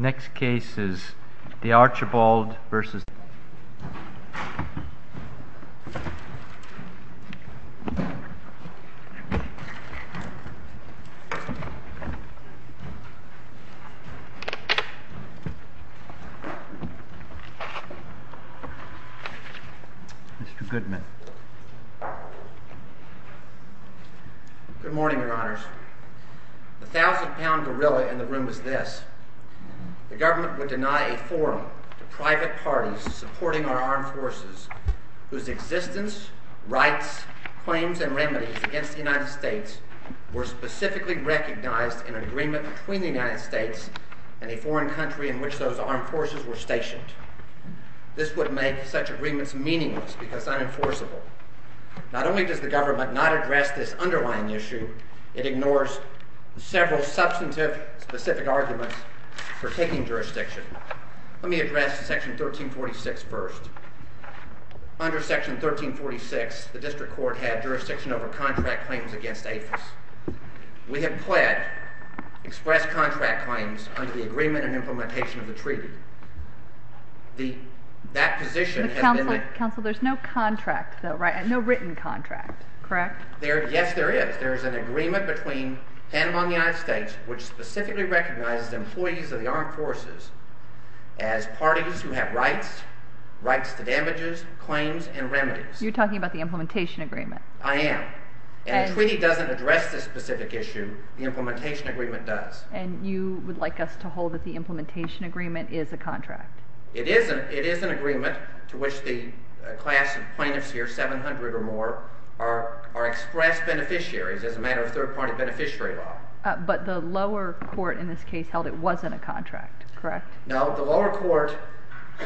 Next case is Dearchibold v. United States. Mr. Goodman. The thousand-pound gorilla in the room is this. The government would deny a forum to private parties supporting our armed forces whose existence, rights, claims, and remedies against the United States were specifically recognized in agreement between the United States and a foreign country in which those armed forces were stationed. This would make such agreements meaningless because unenforceable. Not only does the government not address this underlying issue, it ignores several substantive, specific arguments for taking jurisdiction. Let me address section 1346 first. Under section 1346, the district court had jurisdiction over contract claims against APHIS. We have pled, expressed contract claims under the agreement and implementation of the treaty. That position has been— Counsel, there's no contract though, right? No written contract, correct? Yes, there is. There's an agreement between Panama and the United States which specifically recognizes employees of the armed forces as parties who have rights, rights to damages, claims, and remedies. You're talking about the implementation agreement. I am. And the treaty doesn't address this specific issue. The implementation agreement does. And you would like us to hold that the implementation agreement is a contract. It is an agreement to which the class of plaintiffs here, 700 or more, are expressed beneficiaries as a matter of third-party beneficiary law. But the lower court in this case held it wasn't a contract, correct? No, the lower court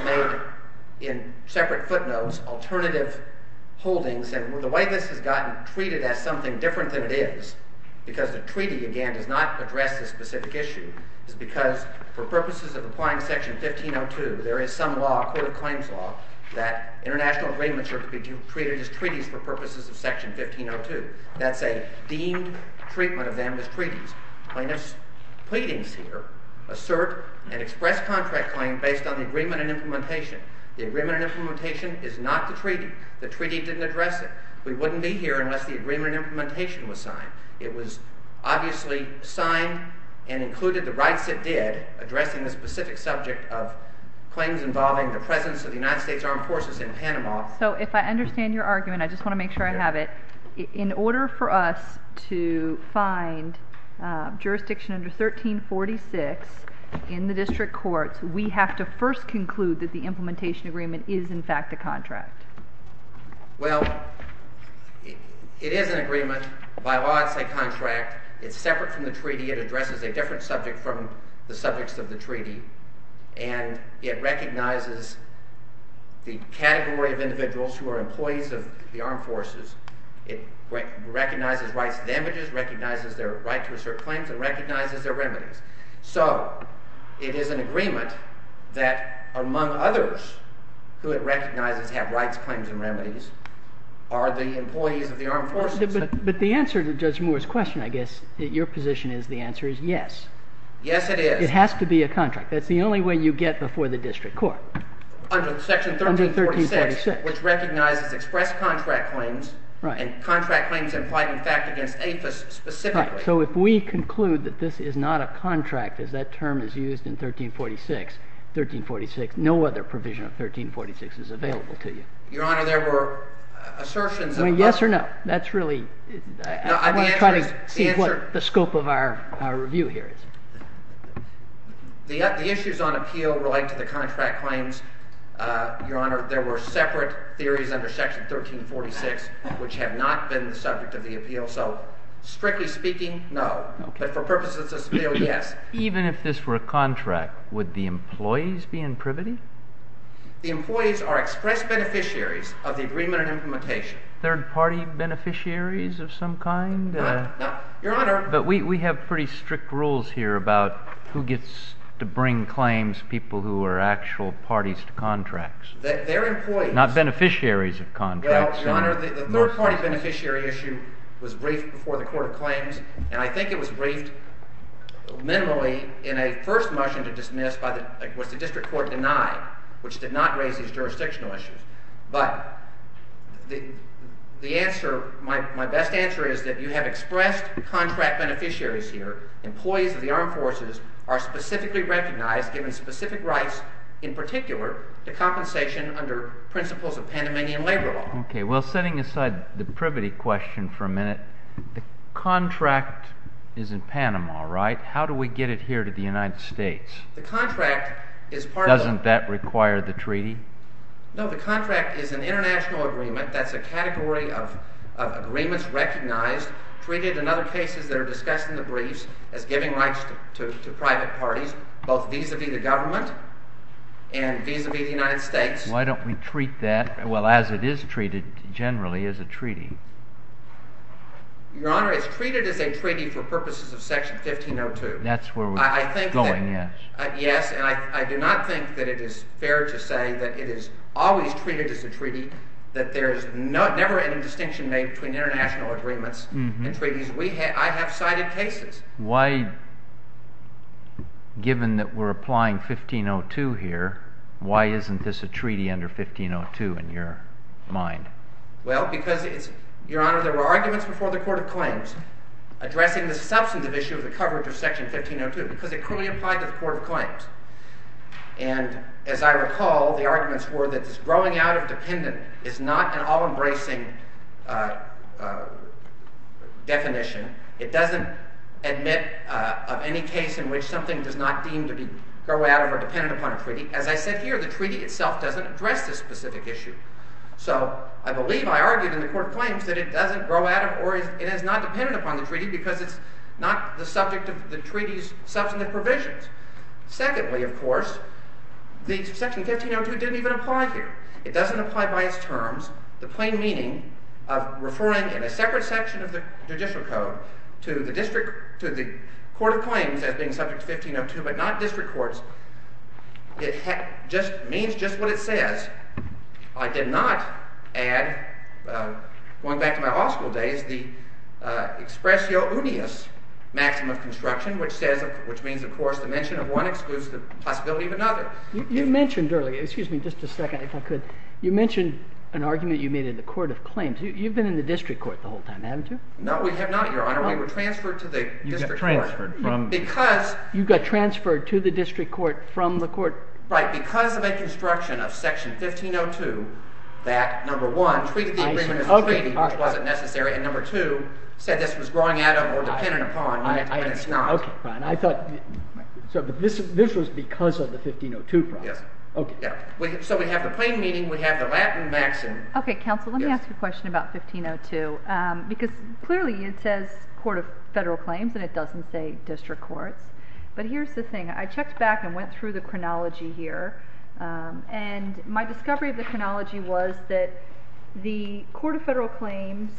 made in separate footnotes alternative holdings. And the way this has gotten treated as something different than it is, because the treaty, again, does not address this specific issue, is because for purposes of applying Section 1502, there is some law, a court of claims law, that international agreements are to be treated as treaties for purposes of Section 1502. That's a deemed treatment of them as treaties. Plaintiffs' pleadings here assert an express contract claim based on the agreement and implementation. The agreement and implementation is not the treaty. The treaty didn't address it. We wouldn't be here unless the agreement and implementation was signed. It was obviously signed and included the rights it did, addressing the specific subject of claims involving the presence of the United States Armed Forces in Panama. So if I understand your argument, I just want to make sure I have it. In order for us to find jurisdiction under 1346 in the district courts, we have to first conclude that the implementation agreement is, in fact, a contract. Well, it is an agreement. By law, it's a contract. It's separate from the treaty. It addresses a different subject from the subjects of the treaty, and it recognizes the category of individuals who are employees of the Armed Forces. It recognizes rights to damages, recognizes their right to assert claims, and recognizes their remedies. So it is an agreement that, among others, who it recognizes have rights, claims, and remedies are the employees of the Armed Forces. But the answer to Judge Moore's question, I guess, your position is the answer is yes. Yes, it is. It has to be a contract. That's the only way you get before the district court. Under Section 1346, which recognizes express contract claims and contract claims implied in fact against APHIS specifically. So if we conclude that this is not a contract, as that term is used in 1346, 1346, no other provision of 1346 is available to you. Your Honor, there were assertions of Yes or no. That's really No, the answer is I want to try to see what the scope of our review here is. The issues on appeal relate to the contract claims. Your Honor, there were separate theories under Section 1346 which have not been the subject of the appeal. So strictly speaking, no. But for purposes of appeal, yes. Even if this were a contract, would the employees be in privity? The employees are express beneficiaries of the agreement and implementation. Third party beneficiaries of some kind? No. Your Honor. But we have pretty strict rules here about who gets to bring claims, people who are actual parties to contracts. They're employees. Not beneficiaries of contracts. Your Honor, the third party beneficiary issue was briefed before the Court of Claims, and I think it was briefed minimally in a first motion to dismiss was the district court denied, which did not raise these jurisdictional issues. But the answer, my best answer is that you have expressed contract beneficiaries here. Employees of the armed forces are specifically recognized, given specific rights, in particular, the compensation under principles of Panamanian labor law. Okay. Well, setting aside the privity question for a minute, the contract is in Panama, right? How do we get it here to the United States? The contract is part of the— Doesn't that require the treaty? No. The contract is an international agreement. That's a category of agreements recognized, treated in other cases that are discussed in the briefs as giving rights to private parties, both vis-à-vis the government and vis-à-vis the United States. Why don't we treat that, well, as it is treated generally, as a treaty? Your Honor, it's treated as a treaty for purposes of Section 1502. That's where we're going, yes. Yes, and I do not think that it is fair to say that it is always treated as a treaty, that there is never any distinction made between international agreements and treaties. I have cited cases. Why, given that we're applying 1502 here, why isn't this a treaty under 1502 in your mind? Well, because, Your Honor, there were arguments before the Court of Claims addressing the substantive issue of the coverage of Section 1502 because it clearly applied to the Court of Claims. And as I recall, the arguments were that this growing out of dependent is not an all-embracing definition. It doesn't admit of any case in which something does not deem to grow out of or dependent upon a treaty. As I said here, the treaty itself doesn't address this specific issue. So I believe I argued in the Court of Claims that it doesn't grow out of or it is not dependent upon the treaty because it's not the subject of the treaty's substantive provisions. Secondly, of course, Section 1502 didn't even apply here. It doesn't apply by its terms. The plain meaning of referring in a separate section of the judicial code to the Court of Claims as being subject to 1502 but not district courts, it means just what it says. I did not add, going back to my law school days, the expressio unius maxim of construction, which means, of course, the mention of one excludes the possibility of another. You mentioned earlier, excuse me just a second if I could, you mentioned an argument you made in the Court of Claims. You've been in the district court the whole time, haven't you? No, we have not, Your Honor. We were transferred to the district court because You got transferred to the district court from the court? Right, because of a construction of Section 1502 that, number one, treated the original treaty, which wasn't necessary, and number two, said this was growing out of or dependent upon and it's not. So this was because of the 1502 problem? Yes. So we have the plain meaning, we have the Latin maxim. Okay, counsel, let me ask you a question about 1502 because clearly it says Court of Federal Claims and it doesn't say district courts, but here's the thing. I checked back and went through the chronology here and my discovery of the chronology was that the Court of Federal Claims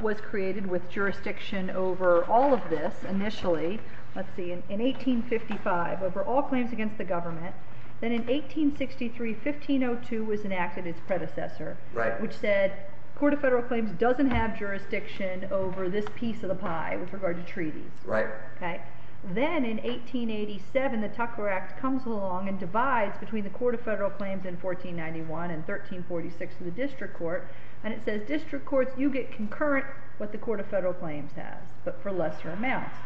was created with jurisdiction over all of this initially, let's see, in 1855, over all claims against the government. Then in 1863, 1502 was enacted, its predecessor, which said Court of Federal Claims doesn't have jurisdiction over this piece of the pie with regard to treaties. Right. Then in 1887, the Tucker Act comes along and divides between the Court of Federal Claims in 1491 and 1346 in the district court, and it says district courts, you get concurrent what the Court of Federal Claims has, but for lesser amounts.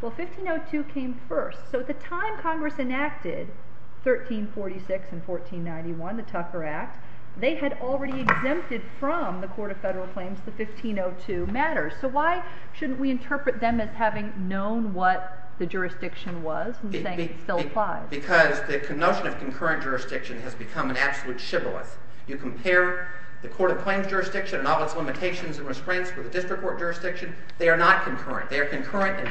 Well, 1502 came first, so at the time Congress enacted, 1346 and 1491, the Tucker Act, they had already exempted from the Court of Federal Claims the 1502 matters, so why shouldn't we interpret them as having known what the jurisdiction was and saying it still applies? Because the notion of concurrent jurisdiction has become an absolute chivalrous. You compare the Court of Claims jurisdiction and all its limitations and restraints with the district court jurisdiction, they are not concurrent. They are concurrent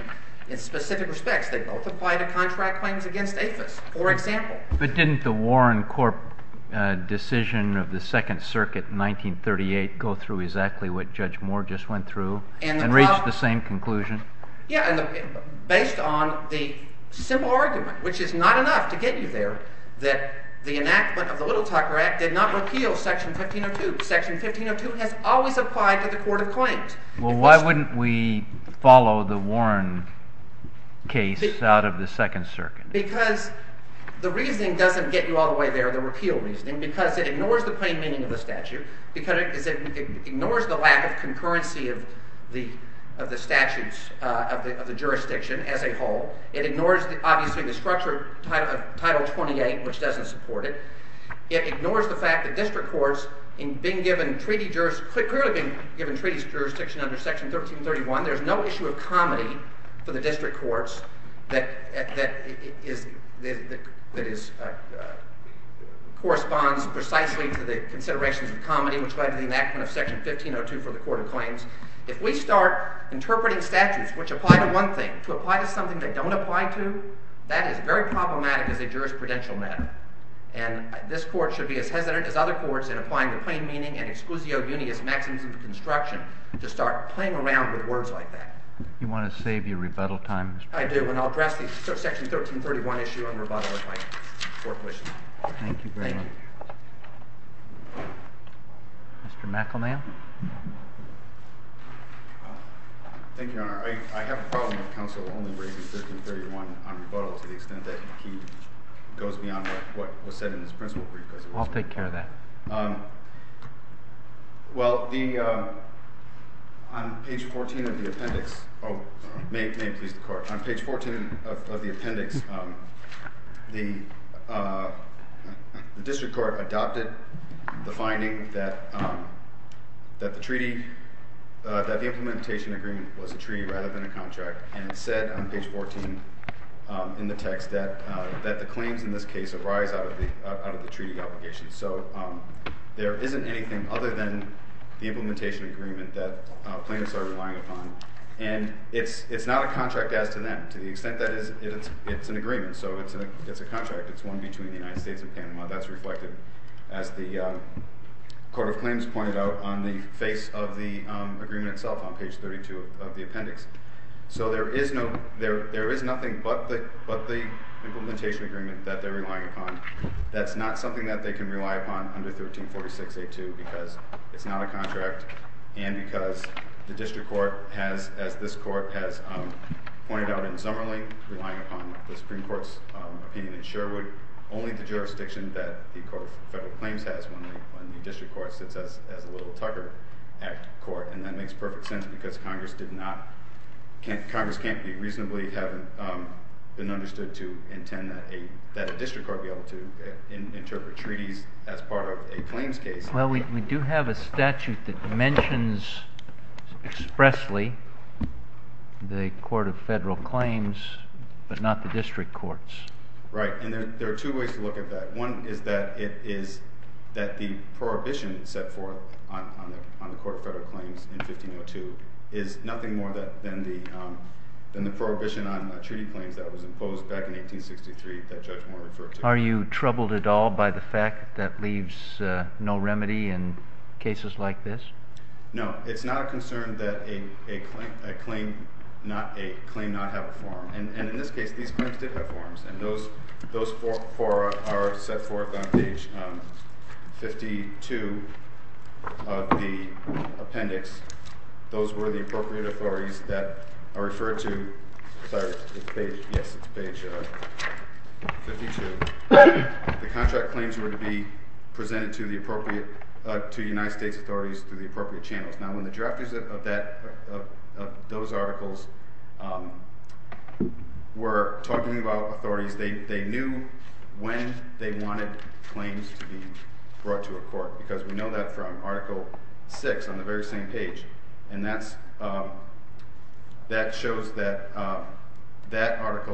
in specific respects. They both apply to contract claims against APHIS, for example. But didn't the Warren Corp decision of the Second Circuit in 1938 go through exactly what Judge Moore just went through and reach the same conclusion? Yeah, based on the simple argument, which is not enough to get you there, that the enactment of the Little Tucker Act did not repeal Section 1502. Section 1502 has always applied to the Court of Claims. Well, why wouldn't we follow the Warren case out of the Second Circuit? Because the reasoning doesn't get you all the way there, the repeal reasoning, because it ignores the plain meaning of the statute, because it ignores the lack of concurrency of the statutes of the jurisdiction as a whole. It ignores, obviously, the structure of Title 28, which doesn't support it. It ignores the fact that district courts, in being given treaty jurisdiction under Section 1331, there's no issue of comity for the district courts that corresponds precisely to the considerations of comity, which led to the enactment of Section 1502 for the Court of Claims. If we start interpreting statutes which apply to one thing to apply to something they don't apply to, that is very problematic as a jurisprudential matter. And this Court should be as hesitant as other courts in applying the plain meaning and exclusio unius maxims of construction to start playing around with words like that. You want to save your rebuttal time? I do. And I'll address the Section 1331 issue on rebuttal if my court wishes. Thank you very much. Thank you. Mr. McElnay? Thank you, Your Honor. I have a problem with counsel only raising 1331 on rebuttal to the extent that he goes beyond what was said in his principle brief. I'll take care of that. Well, on page 14 of the appendix, the district court adopted the finding that the implementation agreement was a treaty rather than a contract. And it said on page 14 in the text that the claims in this case arise out of the treaty obligation. So there isn't anything other than the implementation agreement that plaintiffs are relying upon. And it's not a contract as to them, to the extent that it's an agreement. So it's a contract. It's one between the United States and Panama. That's reflected, as the Court of Claims pointed out, on the face of the agreement itself on page 32 of the appendix. So there is nothing but the implementation agreement that they're relying upon. That's not something that they can rely upon under 1346A2 because it's not a contract. And because the district court has, as this court has pointed out in Zummerling, relying upon the Supreme Court's opinion in Sherwood, only the jurisdiction that the Court of Federal Claims has when the district court sits as a Little-Tucker Act court. And that makes perfect sense because Congress can't reasonably have been understood to intend that a district court be able to interpret treaties as part of a claims case. Well, we do have a statute that mentions expressly the Court of Federal Claims, but not the district courts. Right. And there are two ways to look at that. One is that the prohibition set forth on the Court of Federal Claims in 1502 is nothing more than the prohibition on treaty claims that was imposed back in 1863 that Judge Moore referred to. Are you troubled at all by the fact that leaves no remedy in cases like this? No. It's not a concern that a claim not have a form. And in this case, these claims did have forms. And those four are set forth on page 52 of the appendix. Those were the appropriate authorities that are referred to. Yes, it's page 52. The contract claims were to be presented to the United States authorities through the appropriate channels. Now, when the drafters of those articles were talking about authorities, they knew when they wanted claims to be brought to a court because we know that from Article VI on the very same page. And that shows that that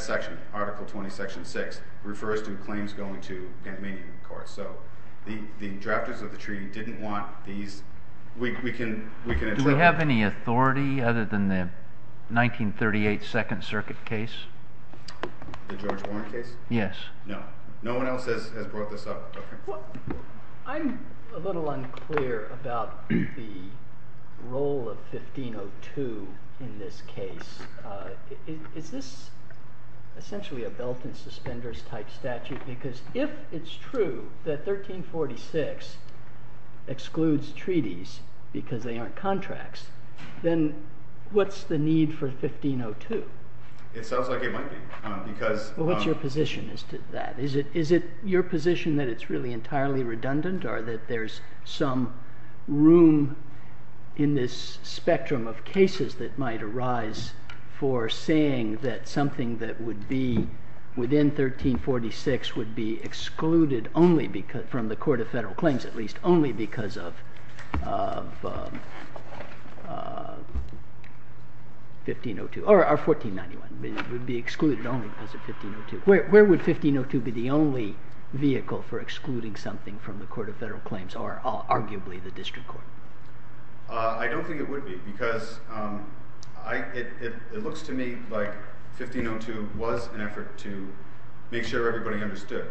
section, Article 20, Section 6, refers to claims going to a Canadian court. So the drafters of the treaty didn't want these. Do we have any authority other than the 1938 Second Circuit case? The George Warren case? Yes. No. No one else has brought this up. I'm a little unclear about the role of 1502 in this case. Is this essentially a belt and suspenders type statute? Because if it's true that 1346 excludes treaties because they aren't contracts, then what's the need for 1502? It sounds like it might be. What's your position as to that? Is it your position that it's really entirely redundant or that there's some room in this spectrum of cases that might arise for saying that something that would be within 1346 would be excluded from the Court of Federal Claims at least only because of 1502? Or 1491 would be excluded only because of 1502. Where would 1502 be the only vehicle for excluding something from the Court of Federal Claims or arguably the district court? I don't think it would be because it looks to me like 1502 was an effort to make sure everybody understood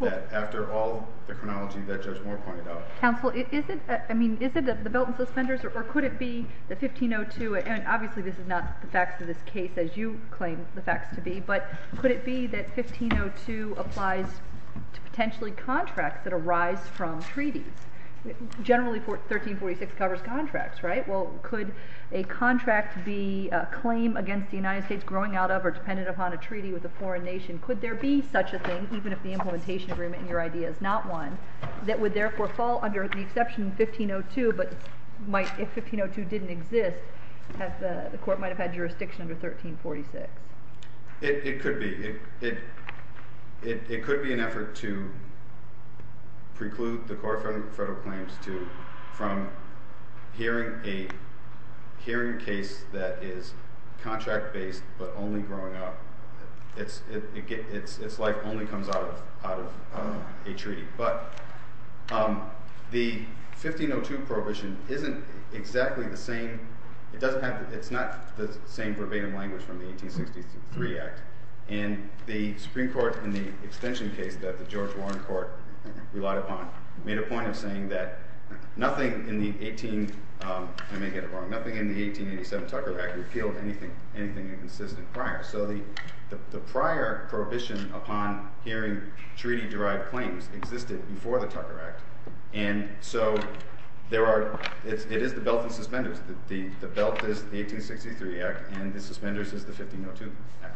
that after all the chronology that Judge Moore pointed out. Counsel, is it the belt and suspenders or could it be the 1502? Obviously, this is not the facts of this case as you claim the facts to be. But could it be that 1502 applies to potentially contracts that arise from treaties? Generally, 1346 covers contracts, right? Well, could a contract be a claim against the United States growing out of or dependent upon a treaty with a foreign nation? Could there be such a thing, even if the implementation agreement in your idea is not one, that would therefore fall under the exception of 1502 but might, if 1502 didn't exist, the court might have had jurisdiction under 1346? It could be. It could be an effort to preclude the Court of Federal Claims from hearing a hearing case that is contract-based but only growing up. Its life only comes out of a treaty. But the 1502 prohibition isn't exactly the same. It's not the same verbatim language from the 1863 Act. And the Supreme Court, in the extension case that the George Warren Court relied upon, made a point of saying that nothing in the 1887 Tucker Act repealed anything inconsistent prior. So the prior prohibition upon hearing treaty-derived claims existed before the Tucker Act. And so it is the belt and suspenders. The belt is the 1863 Act, and the suspenders is the 1502 Act.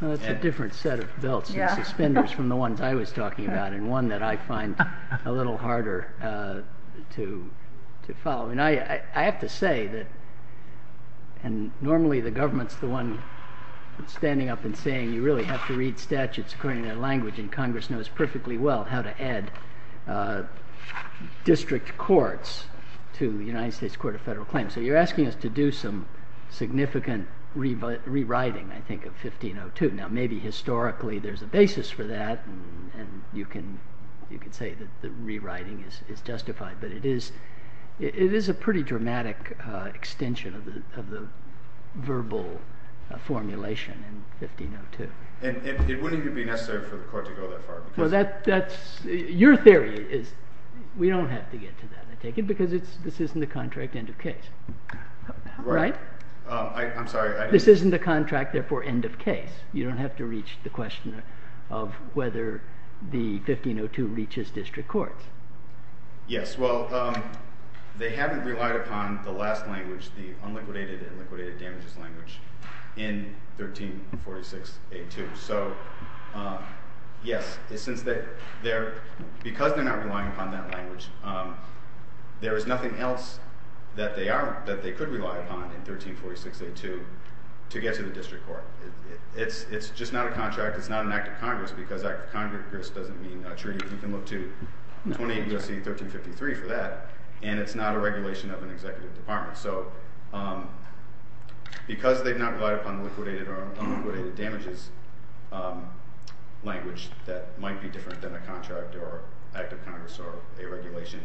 That's a different set of belts and suspenders from the ones I was talking about and one that I find a little harder to follow. I have to say that, and normally the government's the one standing up and saying you really have to read statutes according to their language, and Congress knows perfectly well how to add district courts to the United States Court of Federal Claims. So you're asking us to do some significant rewriting, I think, of 1502. Now maybe historically there's a basis for that, and you can say that the rewriting is justified, but it is a pretty dramatic extension of the verbal formulation in 1502. And it wouldn't even be necessary for the court to go that far. Your theory is we don't have to get to that, I take it, because this isn't a contract end of case. Right? I'm sorry. This isn't a contract, therefore, end of case. You don't have to reach the question of whether the 1502 reaches district courts. Yes. Well, they haven't relied upon the last language, the unliquidated and liquidated damages language in 1346A2. So yes, because they're not relying upon that language, there is nothing else that they could rely upon in 1346A2 to get to the district court. It's just not a contract, it's not an act of Congress, because act of Congress doesn't mean a treaty. You can look to 28 U.S.C. 1353 for that, and it's not a regulation of an executive department. So because they've not relied upon the liquidated or unliquidated damages language, that might be different than a contract or act of Congress or a regulation,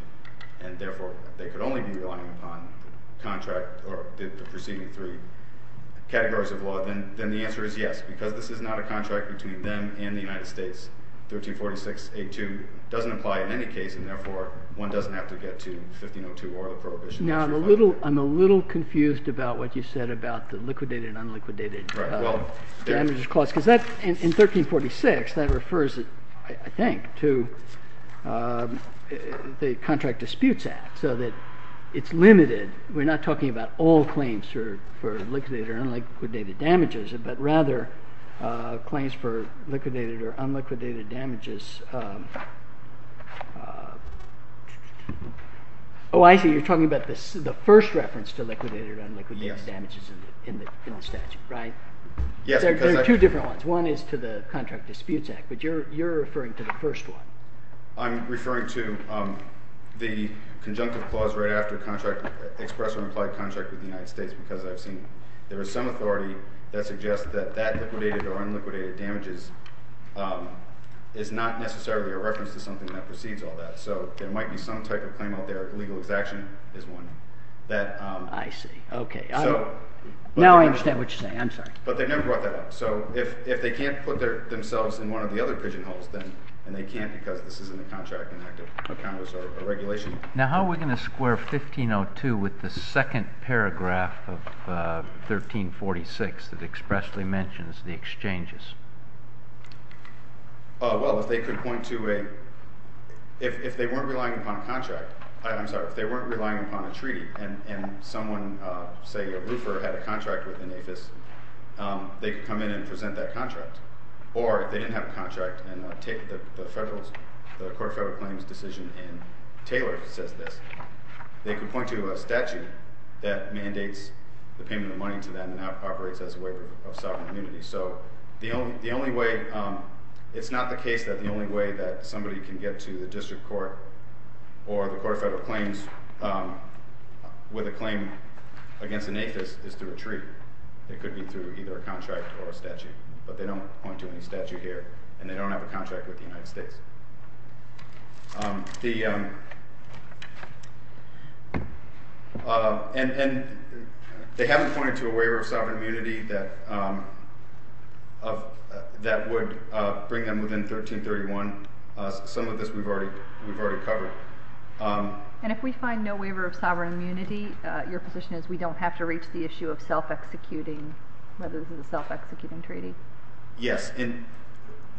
and therefore they could only be relying upon contract or the preceding three categories of law, then the answer is yes, because this is not a contract between them and the United States. 1346A2 doesn't apply in any case, and therefore one doesn't have to get to 1502 or the prohibition. Now I'm a little confused about what you said about the liquidated and unliquidated damages clause, because in 1346 that refers, I think, to the Contract Disputes Act, so that it's limited. We're not talking about all claims for liquidated or unliquidated damages, but rather claims for liquidated or unliquidated damages. Oh, I see. You're talking about the first reference to liquidated or unliquidated damages in the statute, right? Yes. There are two different ones. One is to the Contract Disputes Act, but you're referring to the first one. I'm referring to the conjunctive clause right after the express or implied contract with the United States, because I've seen there is some authority that suggests that that liquidated or unliquidated damages is not necessarily a reference to something that precedes all that. So there might be some type of claim out there. Legal exaction is one. I see. Now I understand what you're saying. I'm sorry. But they never brought that up. So if they can't put themselves in one of the other pigeonholes, and they can't because this isn't a contract, an act of counter-regulation. Now how are we going to square 1502 with the second paragraph of 1346 that expressly mentions the exchanges? Well, if they weren't relying upon a treaty and someone, say a roofer, had a contract with the NAFIS, they could come in and present that contract. Or if they didn't have a contract and the Court of Federal Claims decision in Taylor says this, they could point to a statute that mandates the payment of money to them and operates as a waiver of sovereign immunity. So it's not the case that the only way that somebody can get to the District Court or the Court of Federal Claims with a claim against the NAFIS is through a treaty. It could be through either a contract or a statute. But they don't point to any statute here. And they don't have a contract with the United States. And they haven't pointed to a waiver of sovereign immunity that would bring them within 1331. Some of this we've already covered. And if we find no waiver of sovereign immunity, your position is we don't have to reach the issue of self-executing, whether this is a self-executing treaty? Yes. And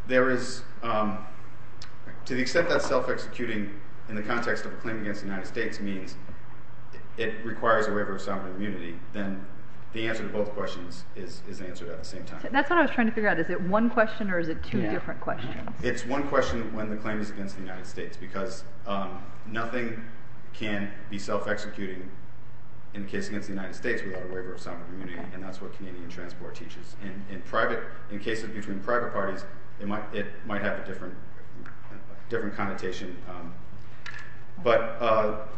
there is, to the extent that self-executing in the context of a claim against the United States means it requires a waiver of sovereign immunity, then the answer to both questions is answered at the same time. That's what I was trying to figure out. Is it one question or is it two different questions? It's one question when the claim is against the United States because nothing can be self-executing in the case against the United States without a waiver of sovereign immunity. And that's what Canadian transport teaches. In private, in cases between private parties, it might have a different connotation. But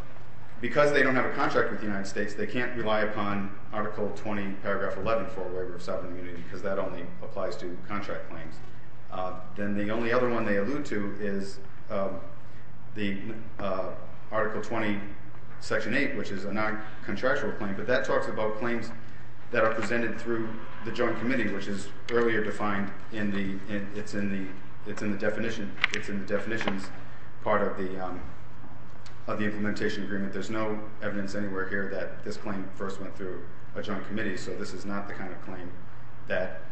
because they don't have a contract with the United States, they can't rely upon Article 20, Paragraph 11 for a waiver of sovereign immunity because that only applies to contract claims. Then the only other one they allude to is the Article 20, Section 8, which is a non-contractual claim. But that talks about claims that are presented through the joint committee, which is earlier defined in the definitions part of the implementation agreement. There's no evidence anywhere here that this claim first went through a joint committee, so this is not the kind of claim that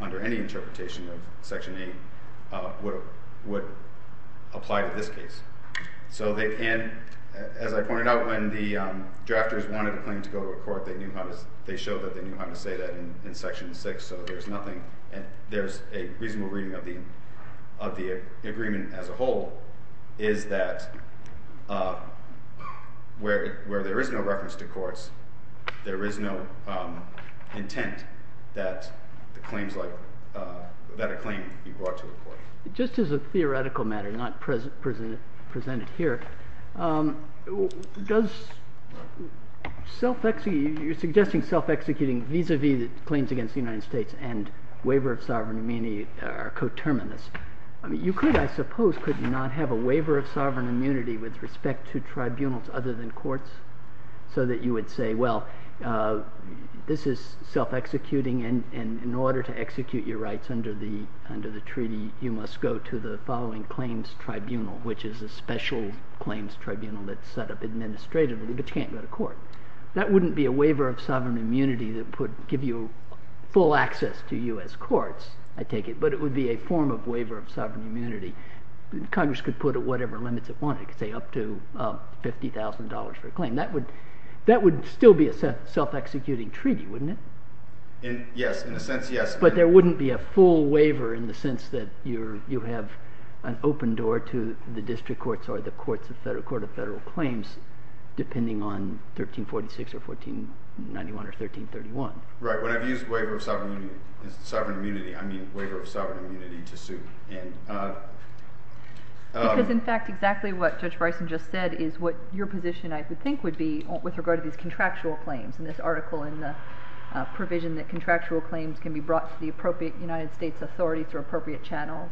under any interpretation of Section 8 would apply to this case. So as I pointed out, when the drafters wanted a claim to go to a court, they showed that they knew how to say that in Section 6, so there's a reasonable reading of the agreement as a whole, is that where there is no reference to courts, there is no intent that a claim be brought to a court. Just as a theoretical matter, not presented here, you're suggesting self-executing vis-à-vis the claims against the United States and waiver of sovereign immunity are coterminous. You could, I suppose, could not have a waiver of sovereign immunity with respect to tribunals other than courts so that you would say, well, this is self-executing and in order to execute your rights under the treaty, you must go to the following claims tribunal, which is a special claims tribunal that's set up administratively, but you can't go to court. That wouldn't be a waiver of sovereign immunity that would give you full access to U.S. courts, I take it, but it would be a form of waiver of sovereign immunity. Congress could put it at whatever limits it wanted, say up to $50,000 for a claim. That would still be a self-executing treaty, wouldn't it? Yes, in a sense, yes. But there wouldn't be a full waiver in the sense that you have an open door to the district courts or the court of federal claims depending on 1346 or 1491 or 1331. Right, when I've used waiver of sovereign immunity, I mean waiver of sovereign immunity to sue. Because, in fact, exactly what Judge Bryson just said is what your position I would think would be with regard to these contractual claims in this article in the provision that contractual claims can be brought to the appropriate United States authorities or appropriate channels.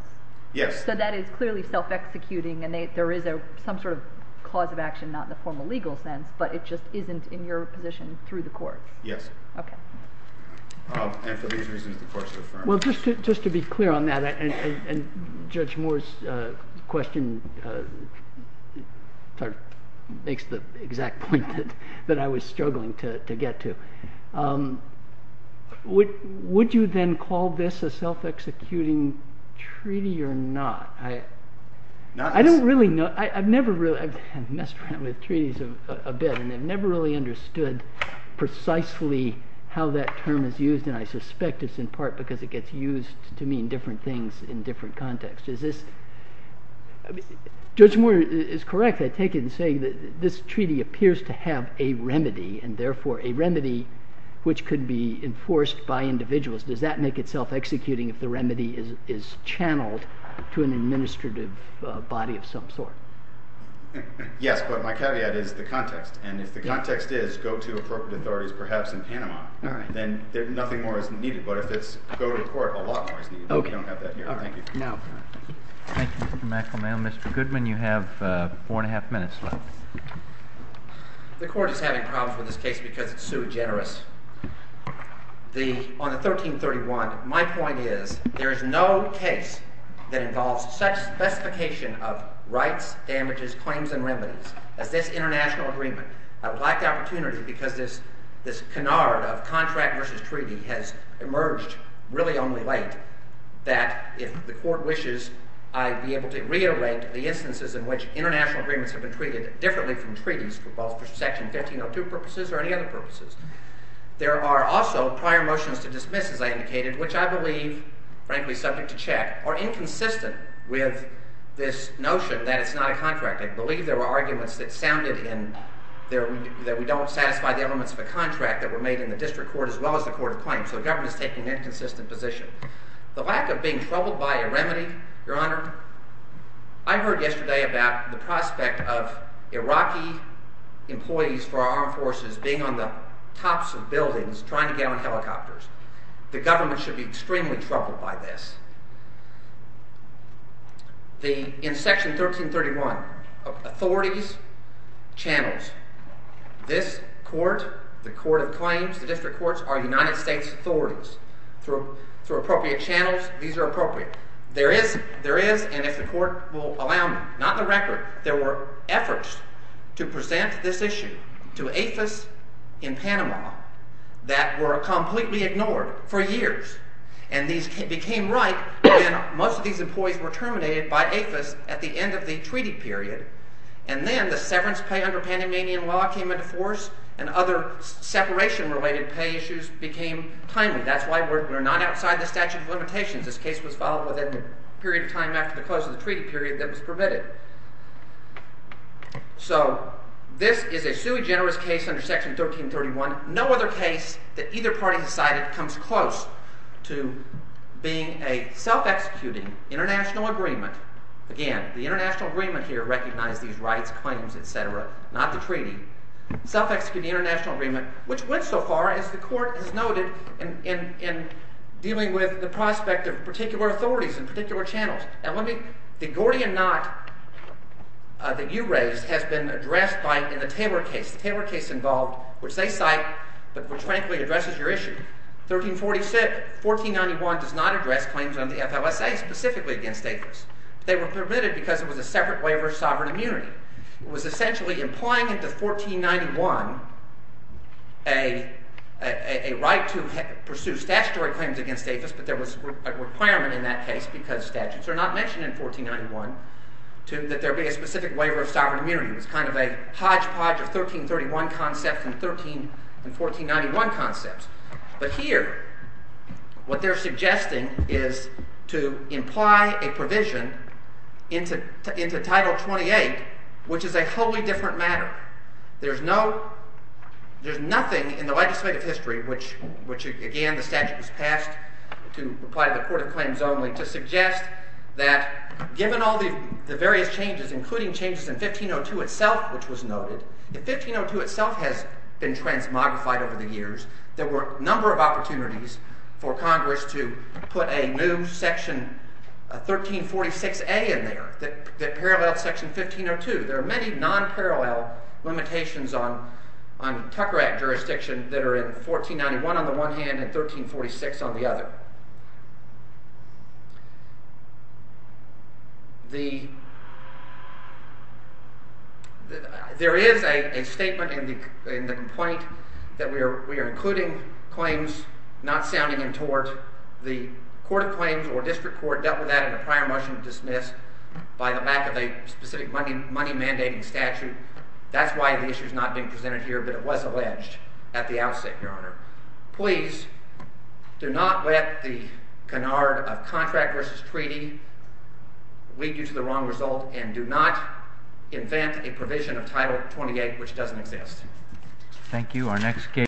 Yes. So that is clearly self-executing and there is some sort of cause of action, not in the formal legal sense, but it just isn't in your position through the court. Yes. Okay. And for these reasons, the court should affirm. Well, just to be clear on that, and Judge Moore's question makes the exact point that I was struggling to get to. Would you then call this a self-executing treaty or not? I don't really know. I've never really... I've messed around with treaties a bit and I've never really understood precisely how that term is used, and I suspect it's in part because it gets used to mean different things in different contexts. Is this... in saying that this treaty appears to have a remedy and therefore a remedy which could be enforced by individuals, does that make it self-executing if the remedy is channeled to an administrative body of some sort? Yes, but my caveat is the context, and if the context is go to appropriate authorities, perhaps in Panama, then nothing more is needed. But if it's go to court, a lot more is needed. Okay. We don't have that here. Thank you. Thank you, Mr. McElmay. Mr. Goodman, you have four and a half minutes left. The Court is having problems with this case because it's sui generis. On the 1331, my point is there is no case that involves such specification of rights, damages, claims, and remedies as this international agreement. I would like the opportunity because this canard of contract versus treaty has emerged really only late that if the Court wishes, I'd be able to reiterate the instances in which international agreements have been treated differently from treaties for both Section 1502 purposes or any other purposes. There are also prior motions to dismiss, as I indicated, which I believe, frankly, subject to check, are inconsistent with this notion that it's not a contract. I believe there were arguments that sounded in that we don't satisfy the elements of a contract that were made in the District Court as well as the Court of Claims, so the government is taking an inconsistent position. The lack of being troubled by a remedy, Your Honor, I heard yesterday about the prospect of Iraqi employees for our armed forces being on the tops of buildings trying to get on helicopters. The government should be extremely troubled by this. In Section 1331, authorities, channels. This Court, the Court of Claims, the District Courts, are United States authorities. Through appropriate channels, these are appropriate. There is, and if the Court will allow me, not in the record, there were efforts to present this issue to APHIS in Panama that were completely ignored for years. And these became right when most of these employees were terminated by APHIS at the end of the treaty period. And then the severance pay under Panamanian law came into force That's why we're not outside the statute of limitations. This case was filed within the period of time after the close of the treaty period that was permitted. So this is a sui generis case under Section 1331. No other case that either party has cited comes close to being a self-executing international agreement. Again, the international agreement here recognized these rights, claims, etc., not the treaty. which went so far as the Court has noted in dealing with the prospect of particular authorities and particular channels. The Gordian Knot that you raised has been addressed in the Taylor case. The Taylor case involved, which they cite, but which frankly addresses your issue. 1346, 1491 does not address claims under the FLSA specifically against APHIS. They were permitted because it was a separate waiver of sovereign immunity. It was essentially implying into 1491 a right to pursue statutory claims against APHIS, but there was a requirement in that case because statutes are not mentioned in 1491 that there be a specific waiver of sovereign immunity. It was kind of a hodgepodge of 1331 concepts and 1491 concepts. But here, what they're suggesting is to imply a provision into Title 28, which is a wholly different matter. There's nothing in the legislative history, which again the statute was passed to apply to the Court of Claims only, to suggest that given all the various changes, including changes in 1502 itself, which was noted, 1502 itself has been transmogrified over the years. There were a number of opportunities for Congress to put a new section 1346A in there that paralleled section 1502. There are many non-parallel limitations on Tucker Act jurisdiction that are in 1491 on the one hand and 1346 on the other. There is a statement in the complaint that we are including claims not sounding in tort. The Court of Claims or district court dealt with that in a prior motion to dismiss by the lack of a specific money mandating statute. That's why the issue is not being presented here, but it was alleged at the outset, Your Honor. Please do not let the canard of contract versus treaty lead you to the wrong result and do not invent a provision of Title 28 which doesn't exist. Thank you.